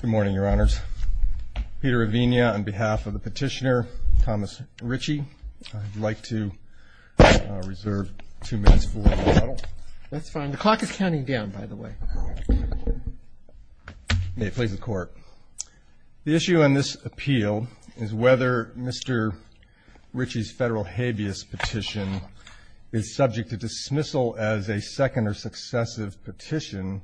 Good morning, Your Honors. Peter Ravinia on behalf of the petitioner, Thomas Richey. I'd like to reserve two minutes for rebuttal. That's fine. The clock is counting down, by the way. The issue on this appeal is whether Mr. Richey's federal habeas petition is subject to dismissal as a second or successive petition,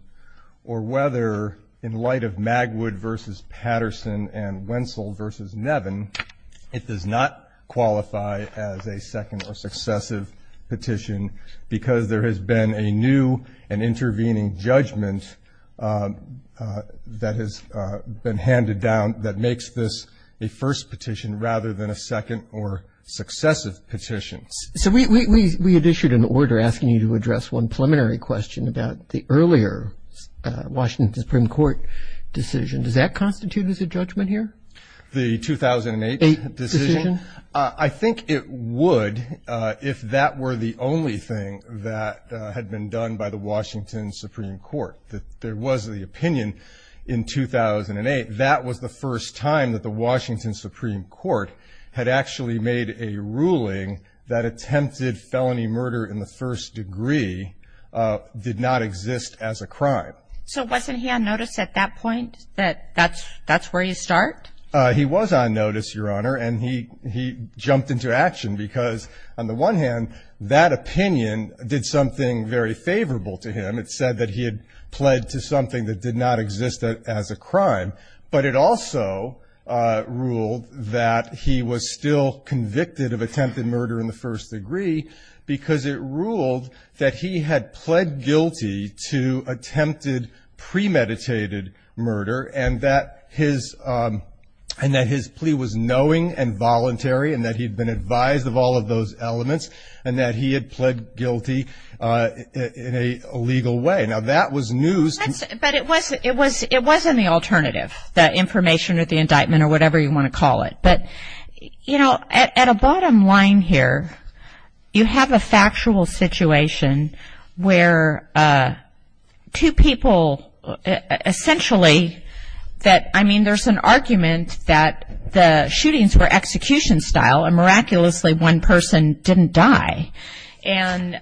or whether, in light of Magwood v. Patterson and Wenzel v. Nevin, it does not qualify as a second or successive petition because there has been a new and intervening judgment that has been handed down that makes this a first petition rather than a second or successive petition. So we had issued an order asking you to address one preliminary question about the earlier Washington Supreme Court decision. Does that constitute as a judgment here? The 2008 decision? I think it would if that were the only thing that had been done by the Washington Supreme Court. There was the opinion in 2008 that was the first time that the Washington Supreme Court had actually made a ruling that attempted felony murder in the first degree did not exist as a crime. So wasn't he on notice at that point, that that's where you start? He was on notice, Your Honor, and he jumped into action because, on the one hand, that opinion did something very favorable to him. It said that he had pled to something that did not exist as a crime, but it also ruled that he was still convicted of attempted murder in the first degree because it ruled that he had pled guilty to attempted premeditated murder and that his plea was knowing and voluntary and that he had been advised of all of those elements and that he had pled guilty in a legal way. Now, that was news. But it wasn't the alternative, the information or the indictment or whatever you want to call it. But, you know, at a bottom line here, you have a factual situation where two people essentially that, I mean, there's an argument that the shootings were execution style and miraculously one person didn't die. And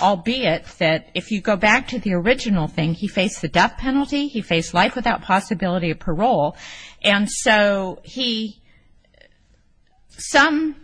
albeit that if you go back to the original thing, he faced the death penalty. And so he, some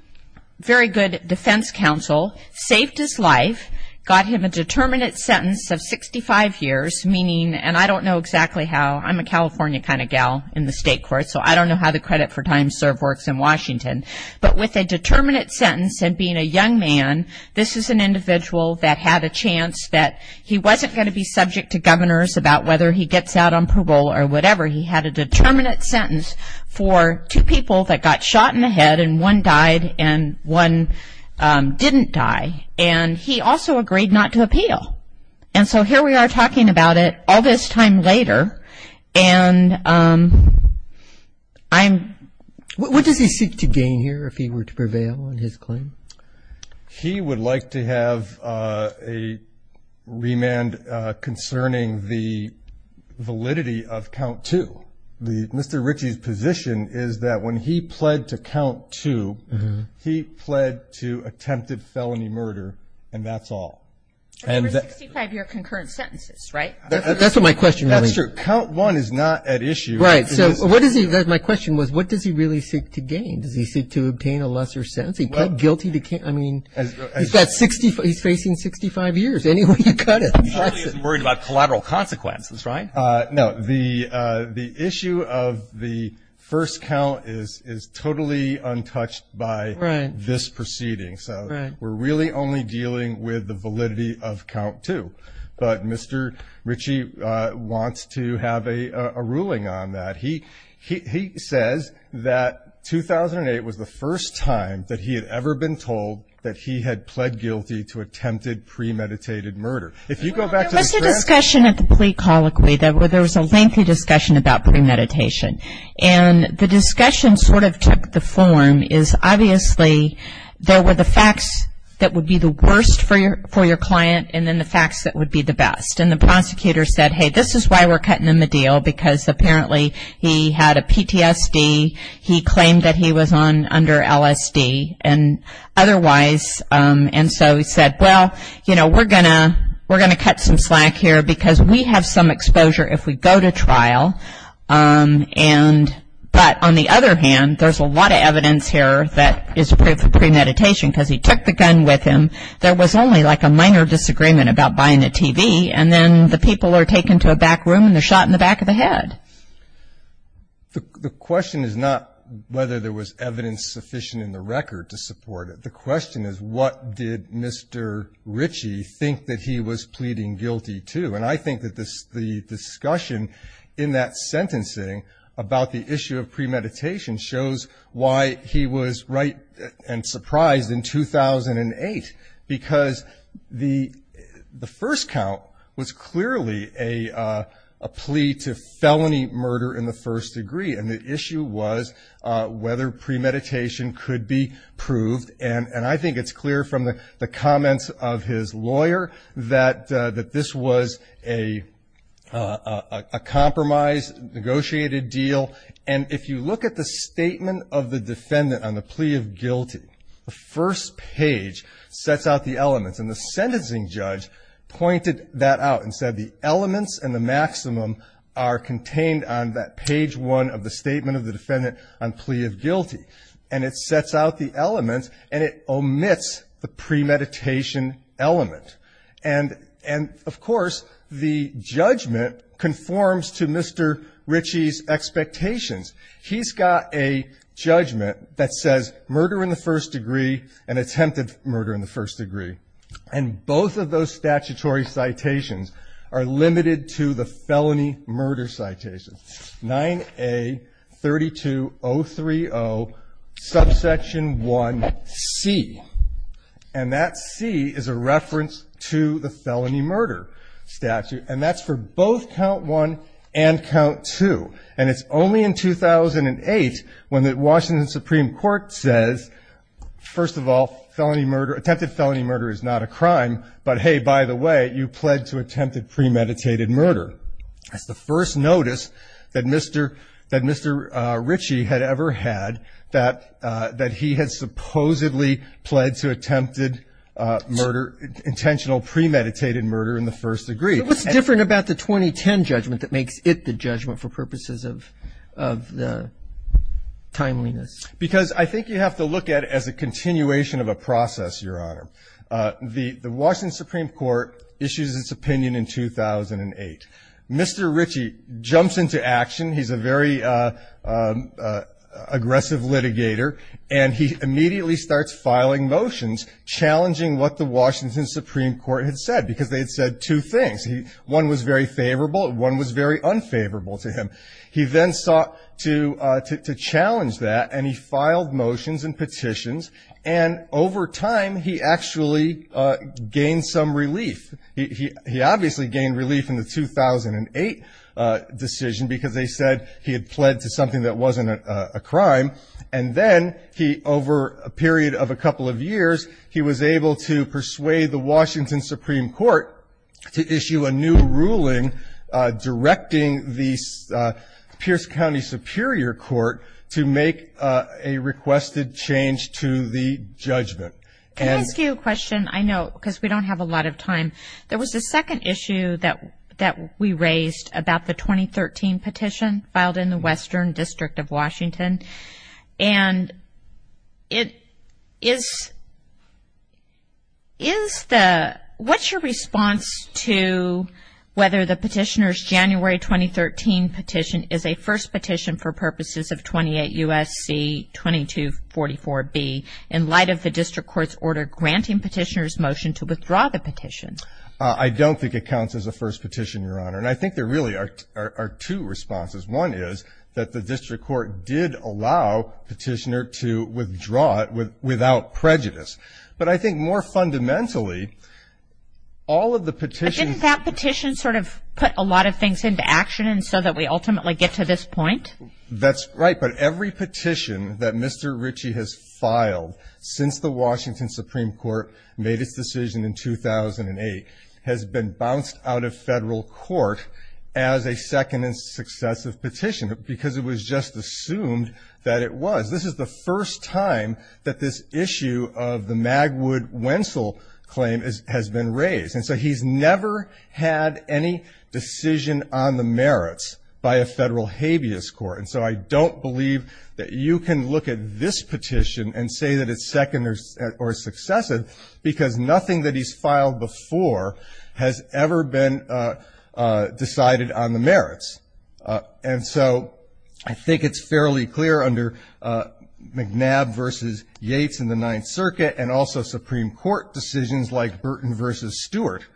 very good defense counsel saved his life, got him a determinate sentence of 65 years, meaning, and I don't know exactly how, I'm a California kind of gal in the state court, so I don't know how the credit for time served works in Washington. But with a determinate sentence and being a young man, this is an individual that had a chance that he wasn't going to be subject to governors about whether he gets out on parole or whatever. He had a determinate sentence for two people that got shot in the head and one died and one didn't die. And he also agreed not to appeal. And so here we are talking about it all this time later, and I'm ‑‑ What does he seek to gain here if he were to prevail in his claim? He would like to have a remand concerning the validity of count two. Mr. Ritchie's position is that when he pled to count two, he pled to attempted felony murder, and that's all. That's for 65‑year concurrent sentences, right? That's what my question really is. That's true. Count one is not at issue. Right. So what does he, my question was, what does he really seek to gain? Does he seek to obtain a lesser sentence? Does he plead guilty? I mean, he's facing 65 years, any way you cut it. He really isn't worried about collateral consequences, right? No. The issue of the first count is totally untouched by this proceeding. So we're really only dealing with the validity of count two. But Mr. Ritchie wants to have a ruling on that. He says that 2008 was the first time that he had ever been told that he had pled guilty to attempted premeditated murder. Well, there was a discussion at the plea colloquy. There was a lengthy discussion about premeditation. And the discussion sort of took the form is obviously there were the facts that would be the worst for your client and then the facts that would be the best. And the prosecutor said, hey, this is why we're cutting him a deal, because apparently he had a PTSD. He claimed that he was under LSD. And otherwise, and so he said, well, you know, we're going to cut some slack here, because we have some exposure if we go to trial. But on the other hand, there's a lot of evidence here that is proof of premeditation, because he took the gun with him. There was only like a minor disagreement about buying a TV, and then the people are taken to a back room and they're shot in the back of the head. The question is not whether there was evidence sufficient in the record to support it. The question is what did Mr. Ritchie think that he was pleading guilty to? And I think that the discussion in that sentencing about the issue of premeditation shows why he was right and surprised in 2008, because the first count was clearly a plea to felony murder in the first degree, and the issue was whether premeditation could be proved. And I think it's clear from the comments of his lawyer that this was a compromise, negotiated deal. And if you look at the statement of the defendant on the plea of guilty, the first page sets out the elements, and the sentencing judge pointed that out and said the elements and the maximum are contained on that page one of the statement of the defendant on plea of guilty, and it sets out the elements and it omits the premeditation element. And, of course, the judgment conforms to Mr. Ritchie's expectations. He's got a judgment that says murder in the first degree and attempted murder in the first degree, and both of those statutory citations are limited to the felony murder citations. 9A32030 subsection 1C, and that C is a reference to the felony murder statute, and that's for both count one and count two. And it's only in 2008 when the Washington Supreme Court says, first of all, attempted felony murder is not a crime, but, hey, by the way, you pled to attempted premeditated murder. That's the first notice that Mr. Ritchie had ever had, that he had supposedly pled to attempted murder, intentional premeditated murder in the first degree. So what's different about the 2010 judgment that makes it the judgment for purposes of the timeliness? Because I think you have to look at it as a continuation of a process, Your Honor. The Washington Supreme Court issues its opinion in 2008. Mr. Ritchie jumps into action. He's a very aggressive litigator, and he immediately starts filing motions challenging what the Washington Supreme Court had said, because they had said two things. One was very favorable and one was very unfavorable to him. He then sought to challenge that, and he filed motions and petitions, and over time he actually gained some relief. He obviously gained relief in the 2008 decision because they said he had pled to something that wasn't a crime. And then he, over a period of a couple of years, he was able to persuade the Washington Supreme Court to issue a new ruling directing the Pierce County Superior Court to make a requested change to the judgment. Can I ask you a question? I know because we don't have a lot of time. There was a second issue that we raised about the 2013 petition filed in the Western District of Washington, and what's your response to whether the petitioner's January 2013 petition is a first petition for purposes of 28 U.S.C. 2244B in light of the district court's order granting petitioner's motion to withdraw the petition? I don't think it counts as a first petition, Your Honor, and I think there really are two responses. One is that the district court did allow petitioner to withdraw it without prejudice. But I think more fundamentally, all of the petitions — But didn't that petition sort of put a lot of things into action so that we ultimately get to this point? That's right, but every petition that Mr. Ritchie has filed since the Washington Supreme Court made its decision in 2008 has been bounced out of federal court as a second and successive petition because it was just assumed that it was. This is the first time that this issue of the Magwood-Wentzel claim has been raised, and so he's never had any decision on the merits by a federal habeas court. And so I don't believe that you can look at this petition and say that it's second or successive because nothing that he's filed before has ever been decided on the merits. And so I think it's fairly clear under McNabb v. Yates in the Ninth Circuit and also Supreme Court decisions like Burton v. Stewart.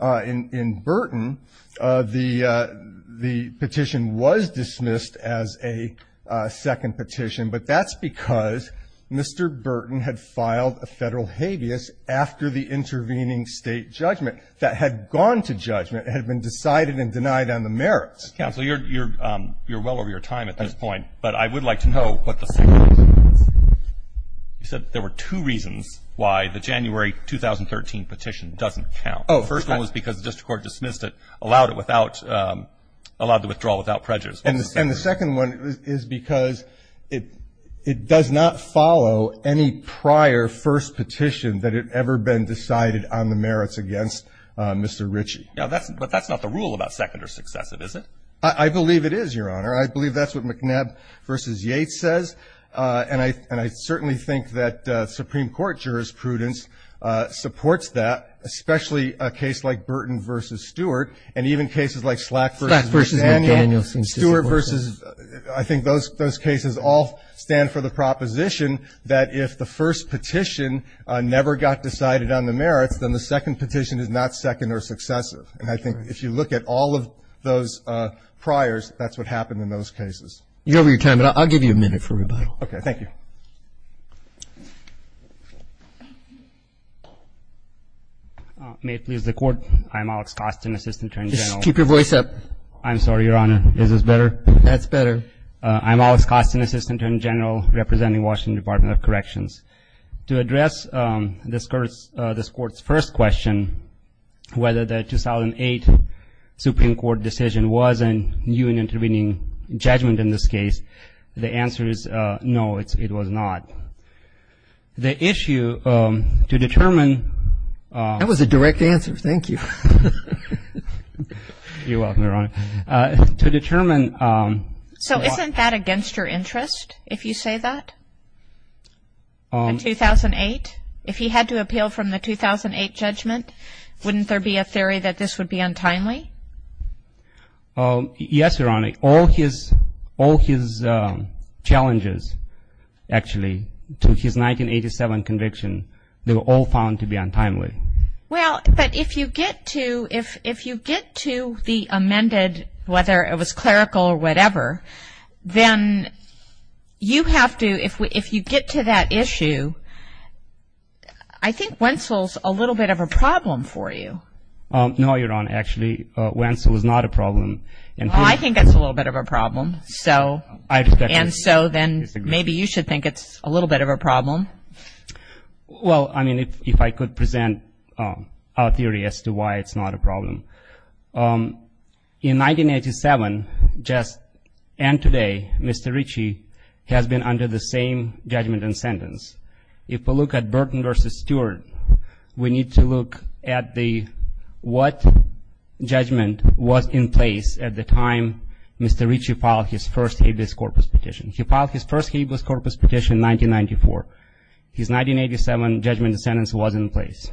In Burton, the petition was dismissed as a second petition, but that's because Mr. Burton had filed a federal habeas after the intervening State judgment that had gone to judgment and had been decided and denied on the merits. Counsel, you're well over your time at this point, but I would like to know what the second reason is. You said there were two reasons why the January 2013 petition doesn't count. The first one was because the district court dismissed it, allowed it without — allowed the withdrawal without prejudice. And the second one is because it does not follow any prior first petition that had ever been decided on the merits against Mr. Ritchie. But that's not the rule about second or successive, is it? I believe it is, Your Honor. I believe that's what McNabb v. Yates says, and I certainly think that Supreme Court jurisprudence supports that, especially a case like Burton v. Stewart and even cases like Slack v. McDaniel. Slack v. McDaniel. Stewart v. — I think those cases all stand for the proposition that if the first petition never got decided on the merits, then the second petition is not second or successive. And I think if you look at all of those priors, that's what happened in those cases. You're over your time, but I'll give you a minute for rebuttal. Okay. Thank you. May it please the Court, I'm Alex Costin, Assistant Attorney General. Just keep your voice up. I'm sorry, Your Honor. Is this better? That's better. I'm Alex Costin, Assistant Attorney General, representing Washington Department of Corrections. To address this Court's first question, whether the 2008 Supreme Court decision was a new and intervening judgment in this case, the answer is no, it was not. The issue to determine — That was a direct answer. Thank you. You're welcome, Your Honor. To determine — So isn't that against your interest if you say that, the 2008? If he had to appeal from the 2008 judgment, wouldn't there be a theory that this would be untimely? Yes, Your Honor. All his challenges, actually, to his 1987 conviction, they were all found to be untimely. Well, but if you get to the amended, whether it was clerical or whatever, then you have to — if you get to that issue, I think Wentzel's a little bit of a problem for you. No, Your Honor. Actually, Wentzel is not a problem. Well, I think that's a little bit of a problem. So — I respectfully disagree. And so then maybe you should think it's a little bit of a problem. Well, I mean, if I could present a theory as to why it's not a problem. In 1987, just — and today, Mr. Ritchie has been under the same judgment and sentence. If we look at Burton v. Stewart, we need to look at the — what judgment was in place at the time Mr. Ritchie filed his first habeas corpus petition. He filed his first habeas corpus petition in 1994. His 1987 judgment and sentence was in place.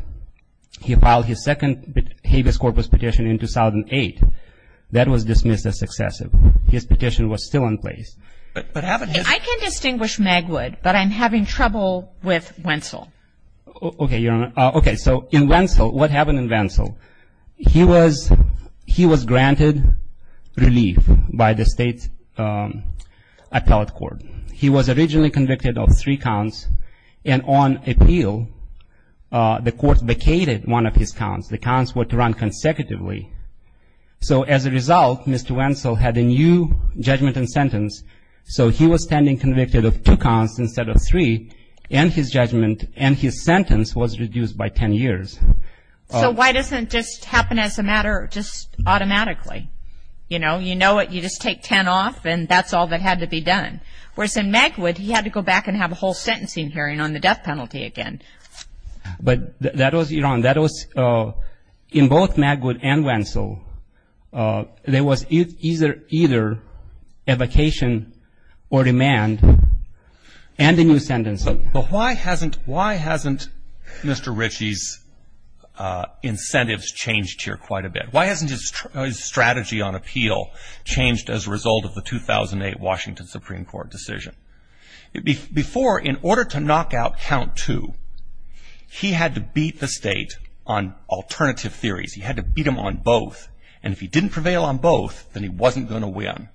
He filed his second habeas corpus petition in 2008. That was dismissed as excessive. His petition was still in place. I can distinguish Magwood, but I'm having trouble with Wentzel. Okay, Your Honor. Okay, so in Wentzel — what happened in Wentzel? He was — he was granted relief by the state appellate court. He was originally convicted of three counts, and on appeal, the court vacated one of his counts. The counts were to run consecutively. So as a result, Mr. Wentzel had a new judgment and sentence. So he was standing convicted of two counts instead of three, and his judgment and his sentence was reduced by 10 years. So why doesn't it just happen as a matter just automatically? You know, you know it, you just take 10 off, and that's all that had to be done. Whereas in Magwood, he had to go back and have a whole sentencing hearing on the death penalty again. But that was — Your Honor, that was — in both Magwood and Wentzel, there was either evocation or demand and a new sentence. But why hasn't — why hasn't Mr. Ritchie's incentives changed here quite a bit? Why hasn't his strategy on appeal changed as a result of the 2008 Washington Supreme Court decision? Before, in order to knock out count two, he had to beat the state on alternative theories. He had to beat them on both. And if he didn't prevail on both, then he wasn't going to win.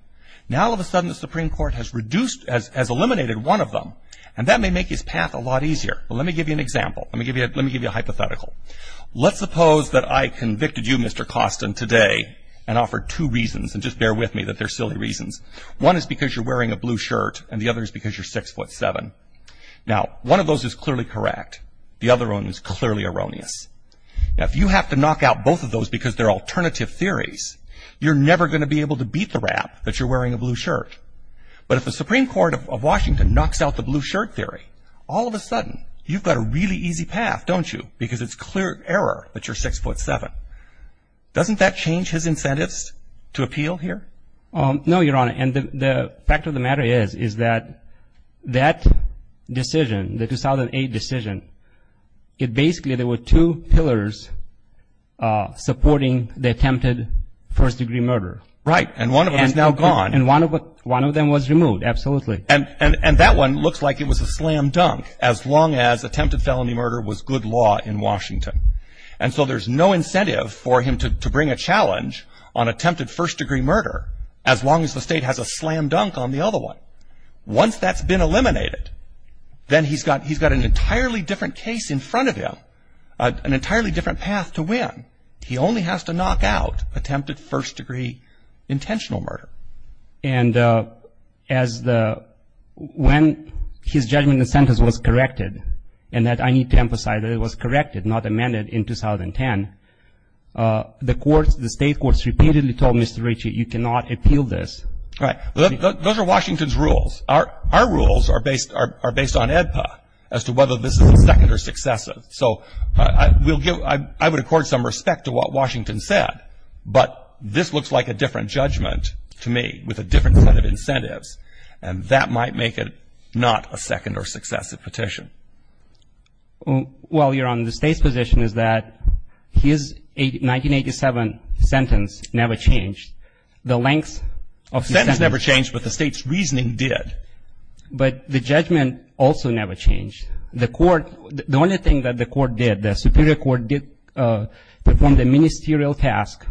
Now all of a sudden, the Supreme Court has reduced — has eliminated one of them, and that may make his path a lot easier. Well, let me give you an example. Let me give you a hypothetical. Let's suppose that I convicted you, Mr. Costin, today and offered two reasons, and just bear with me that they're silly reasons. One is because you're wearing a blue shirt, and the other is because you're 6'7". Now, one of those is clearly correct. The other one is clearly erroneous. Now, if you have to knock out both of those because they're alternative theories, you're never going to be able to beat the rap that you're wearing a blue shirt. But if the Supreme Court of Washington knocks out the blue shirt theory, all of a sudden, you've got a really easy path, don't you, because it's clear error that you're 6'7". Doesn't that change his incentives to appeal here? No, Your Honor, and the fact of the matter is, is that that decision, the 2008 decision, basically there were two pillars supporting the attempted first-degree murder. Right, and one of them is now gone. And one of them was removed, absolutely. And that one looks like it was a slam dunk, as long as attempted felony murder was good law in Washington. And so there's no incentive for him to bring a challenge on attempted first-degree murder, as long as the state has a slam dunk on the other one. Once that's been eliminated, then he's got an entirely different case in front of him, an entirely different path to win. He only has to knock out attempted first-degree intentional murder. And when his judgment and sentence was corrected, and that I need to emphasize that it was corrected, not amended, in 2010, the state courts repeatedly told Mr. Ritchie, you cannot appeal this. Right. Those are Washington's rules. Our rules are based on AEDPA, as to whether this is second or successive. So I would accord some respect to what Washington said, but this looks like a different judgment to me, with a different set of incentives, and that might make it not a second or successive petition. Well, your Honor, the state's position is that his 1987 sentence never changed. The length of the sentence never changed, but the state's reasoning did. But the judgment also never changed. The only thing that the court did, the superior court did, performed a ministerial task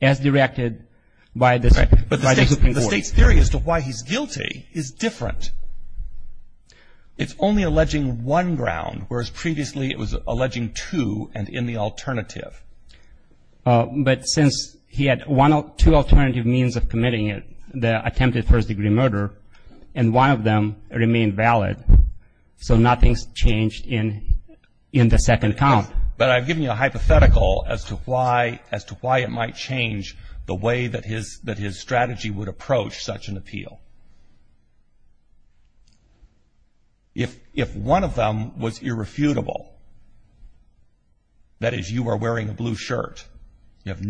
as directed by the Supreme Court. But the state's theory as to why he's guilty is different. It's only alleging one ground, whereas previously it was alleging two and in the alternative. But since he had two alternative means of committing it, the attempted first-degree murder, and one of them remained valid, so nothing's changed in the second count. But I've given you a hypothetical as to why it might change the way that his strategy would approach such an appeal. If one of them was irrefutable, that is, you are wearing a blue shirt, you have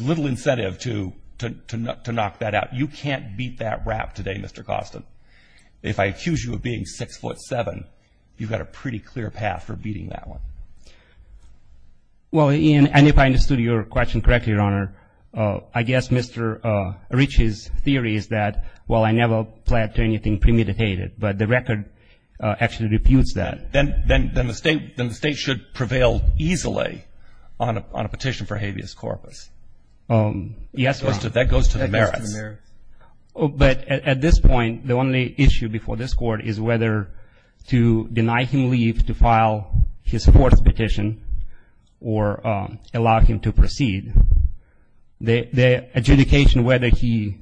little incentive to knock that out. You can't beat that rap today, Mr. Costin. If I accuse you of being 6'7", you've got a pretty clear path for beating that one. Well, Ian, and if I understood your question correctly, Your Honor, I guess Mr. Rich's theory is that, well, I never pled to anything premeditated, but the record actually refutes that. Then the state should prevail easily on a petition for habeas corpus. Yes, Your Honor. That goes to the merits. But at this point, the only issue before this Court is whether to deny him leave to file his fourth petition or allow him to proceed. The adjudication whether he,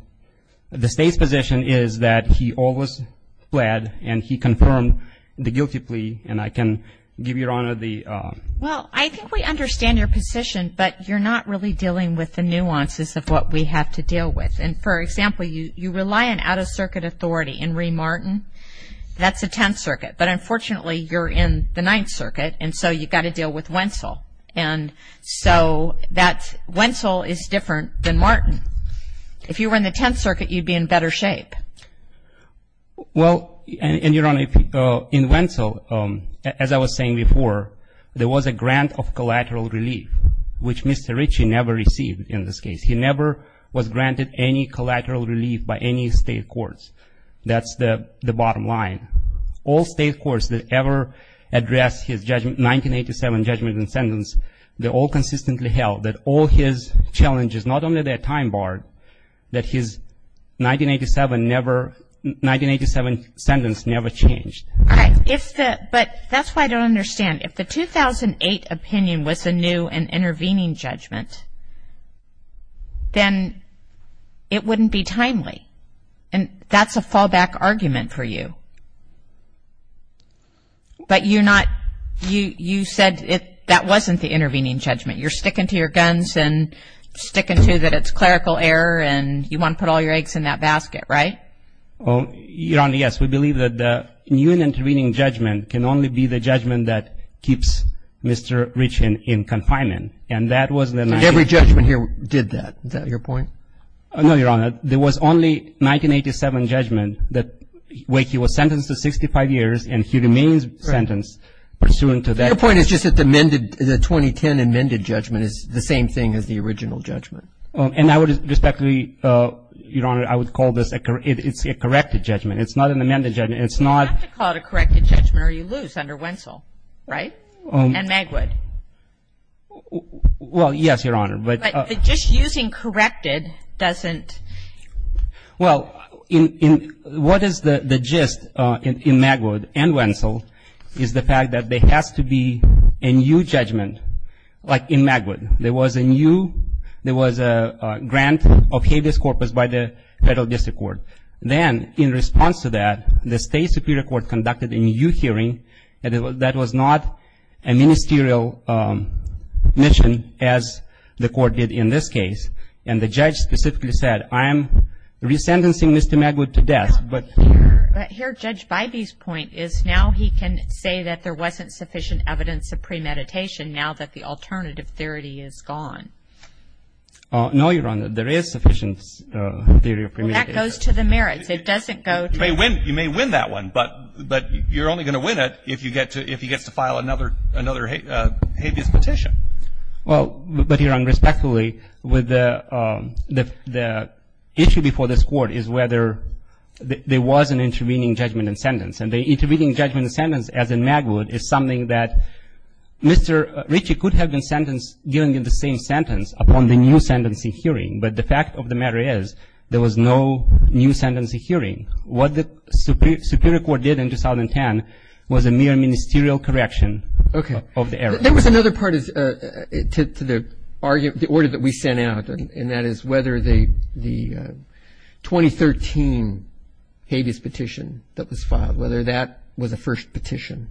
the state's position is that he always pled and he confirmed the guilty plea. And I can give Your Honor the. Well, I think we understand your position, but you're not really dealing with the nuances of what we have to deal with. And, for example, you rely on out-of-circuit authority. In Rhee Martin, that's the Tenth Circuit. But, unfortunately, you're in the Ninth Circuit, and so you've got to deal with Wentzel. And so Wentzel is different than Martin. If you were in the Tenth Circuit, you'd be in better shape. Well, and Your Honor, in Wentzel, as I was saying before, there was a grant of collateral relief, which Mr. Rich never received in this case. He never was granted any collateral relief by any state courts. That's the bottom line. All state courts that ever addressed his 1987 judgment and sentence, they all consistently held that all his challenges, not only their time bar, that his 1987 sentence never changed. All right. But that's why I don't understand. If the 2008 opinion was a new and intervening judgment, then it wouldn't be timely. And that's a fallback argument for you. But you're not, you said that wasn't the intervening judgment. You're sticking to your guns and sticking to that it's clerical error, and you want to put all your eggs in that basket, right? Well, Your Honor, yes. We believe that the new and intervening judgment can only be the judgment that keeps Mr. Rich in confinement. And that was the 19- And every judgment here did that. Is that your point? No, Your Honor. There was only 1987 judgment where he was sentenced to 65 years, and he remains sentenced pursuant to that- Your point is just that the amended, the 2010 amended judgment is the same thing as the original judgment. And I would respectfully, Your Honor, I would call this a corrected judgment. It's not an amended judgment. It's not- You have to call it a corrected judgment or you lose under Wentzel, right? And Magwood. Well, yes, Your Honor, but- But the gist using corrected doesn't- Well, what is the gist in Magwood and Wentzel is the fact that there has to be a new judgment. Like in Magwood, there was a new, there was a grant of habeas corpus by the federal district court. Then, in response to that, the state superior court conducted a new hearing that was not a ministerial mission, as the court did in this case. And the judge specifically said, I am resentencing Mr. Magwood to death, but- Here, Judge Bybee's point is now he can say that there wasn't sufficient evidence of premeditation, now that the alternative theory is gone. No, Your Honor, there is sufficient theory of premeditation. Well, that goes to the merits. It doesn't go to- You may win that one, but you're only going to win it if he gets to file another habeas petition. Well, but, Your Honor, respectfully, with the issue before this court is whether there was an intervening judgment and sentence, and the intervening judgment and sentence, as in Magwood, is something that Mr. Ritchie could have been sentenced during the same sentence upon the new sentencing hearing, but the fact of the matter is there was no new sentencing hearing. What the superior court did in 2010 was a mere ministerial correction of the error. There was another part to the argument, the order that we sent out, and that is whether the 2013 habeas petition that was filed, whether that was a first petition.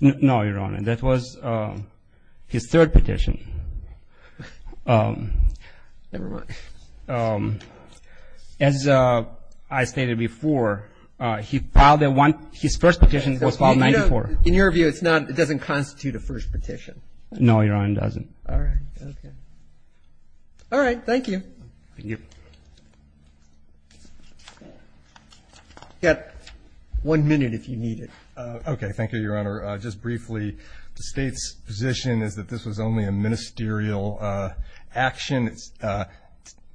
No, Your Honor. That was his third petition. Never mind. As I stated before, he filed the one, his first petition was filed in 1994. In your view, it's not, it doesn't constitute a first petition? No, Your Honor, it doesn't. All right. Okay. All right. Thank you. Thank you. You've got one minute if you need it. Okay. Thank you, Your Honor. Just briefly, the State's position is that this was only a ministerial action.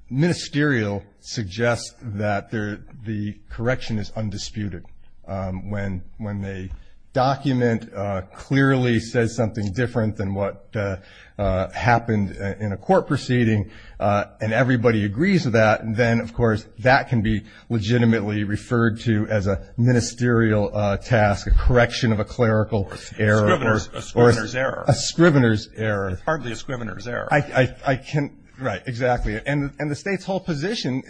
Ministerial suggests that the correction is undisputed. When a document clearly says something different than what happened in a court proceeding and everybody agrees with that, then, of course, that can be legitimately referred to as a ministerial task, a correction of a clerical error. A scrivener's error. A scrivener's error. It's hardly a scrivener's error. Right, exactly. And the State's whole position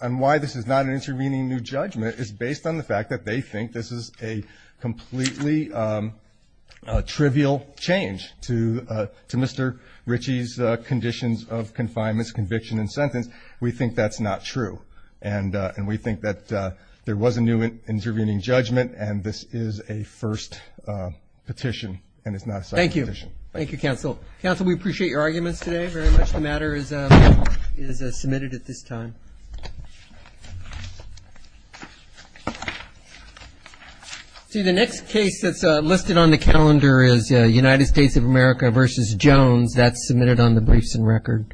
on why this is not an intervening new judgment is based on the fact that they think this is a completely trivial change to Mr. Ritchie's conditions of confinement, conviction, and sentence. We think that's not true. And we think that there was a new intervening judgment, and this is a first petition, and it's not a second petition. Thank you. Thank you, counsel. Counsel, we appreciate your arguments today very much. This matter is submitted at this time. See, the next case that's listed on the calendar is United States of America v. Jones. That's submitted on the briefs and record.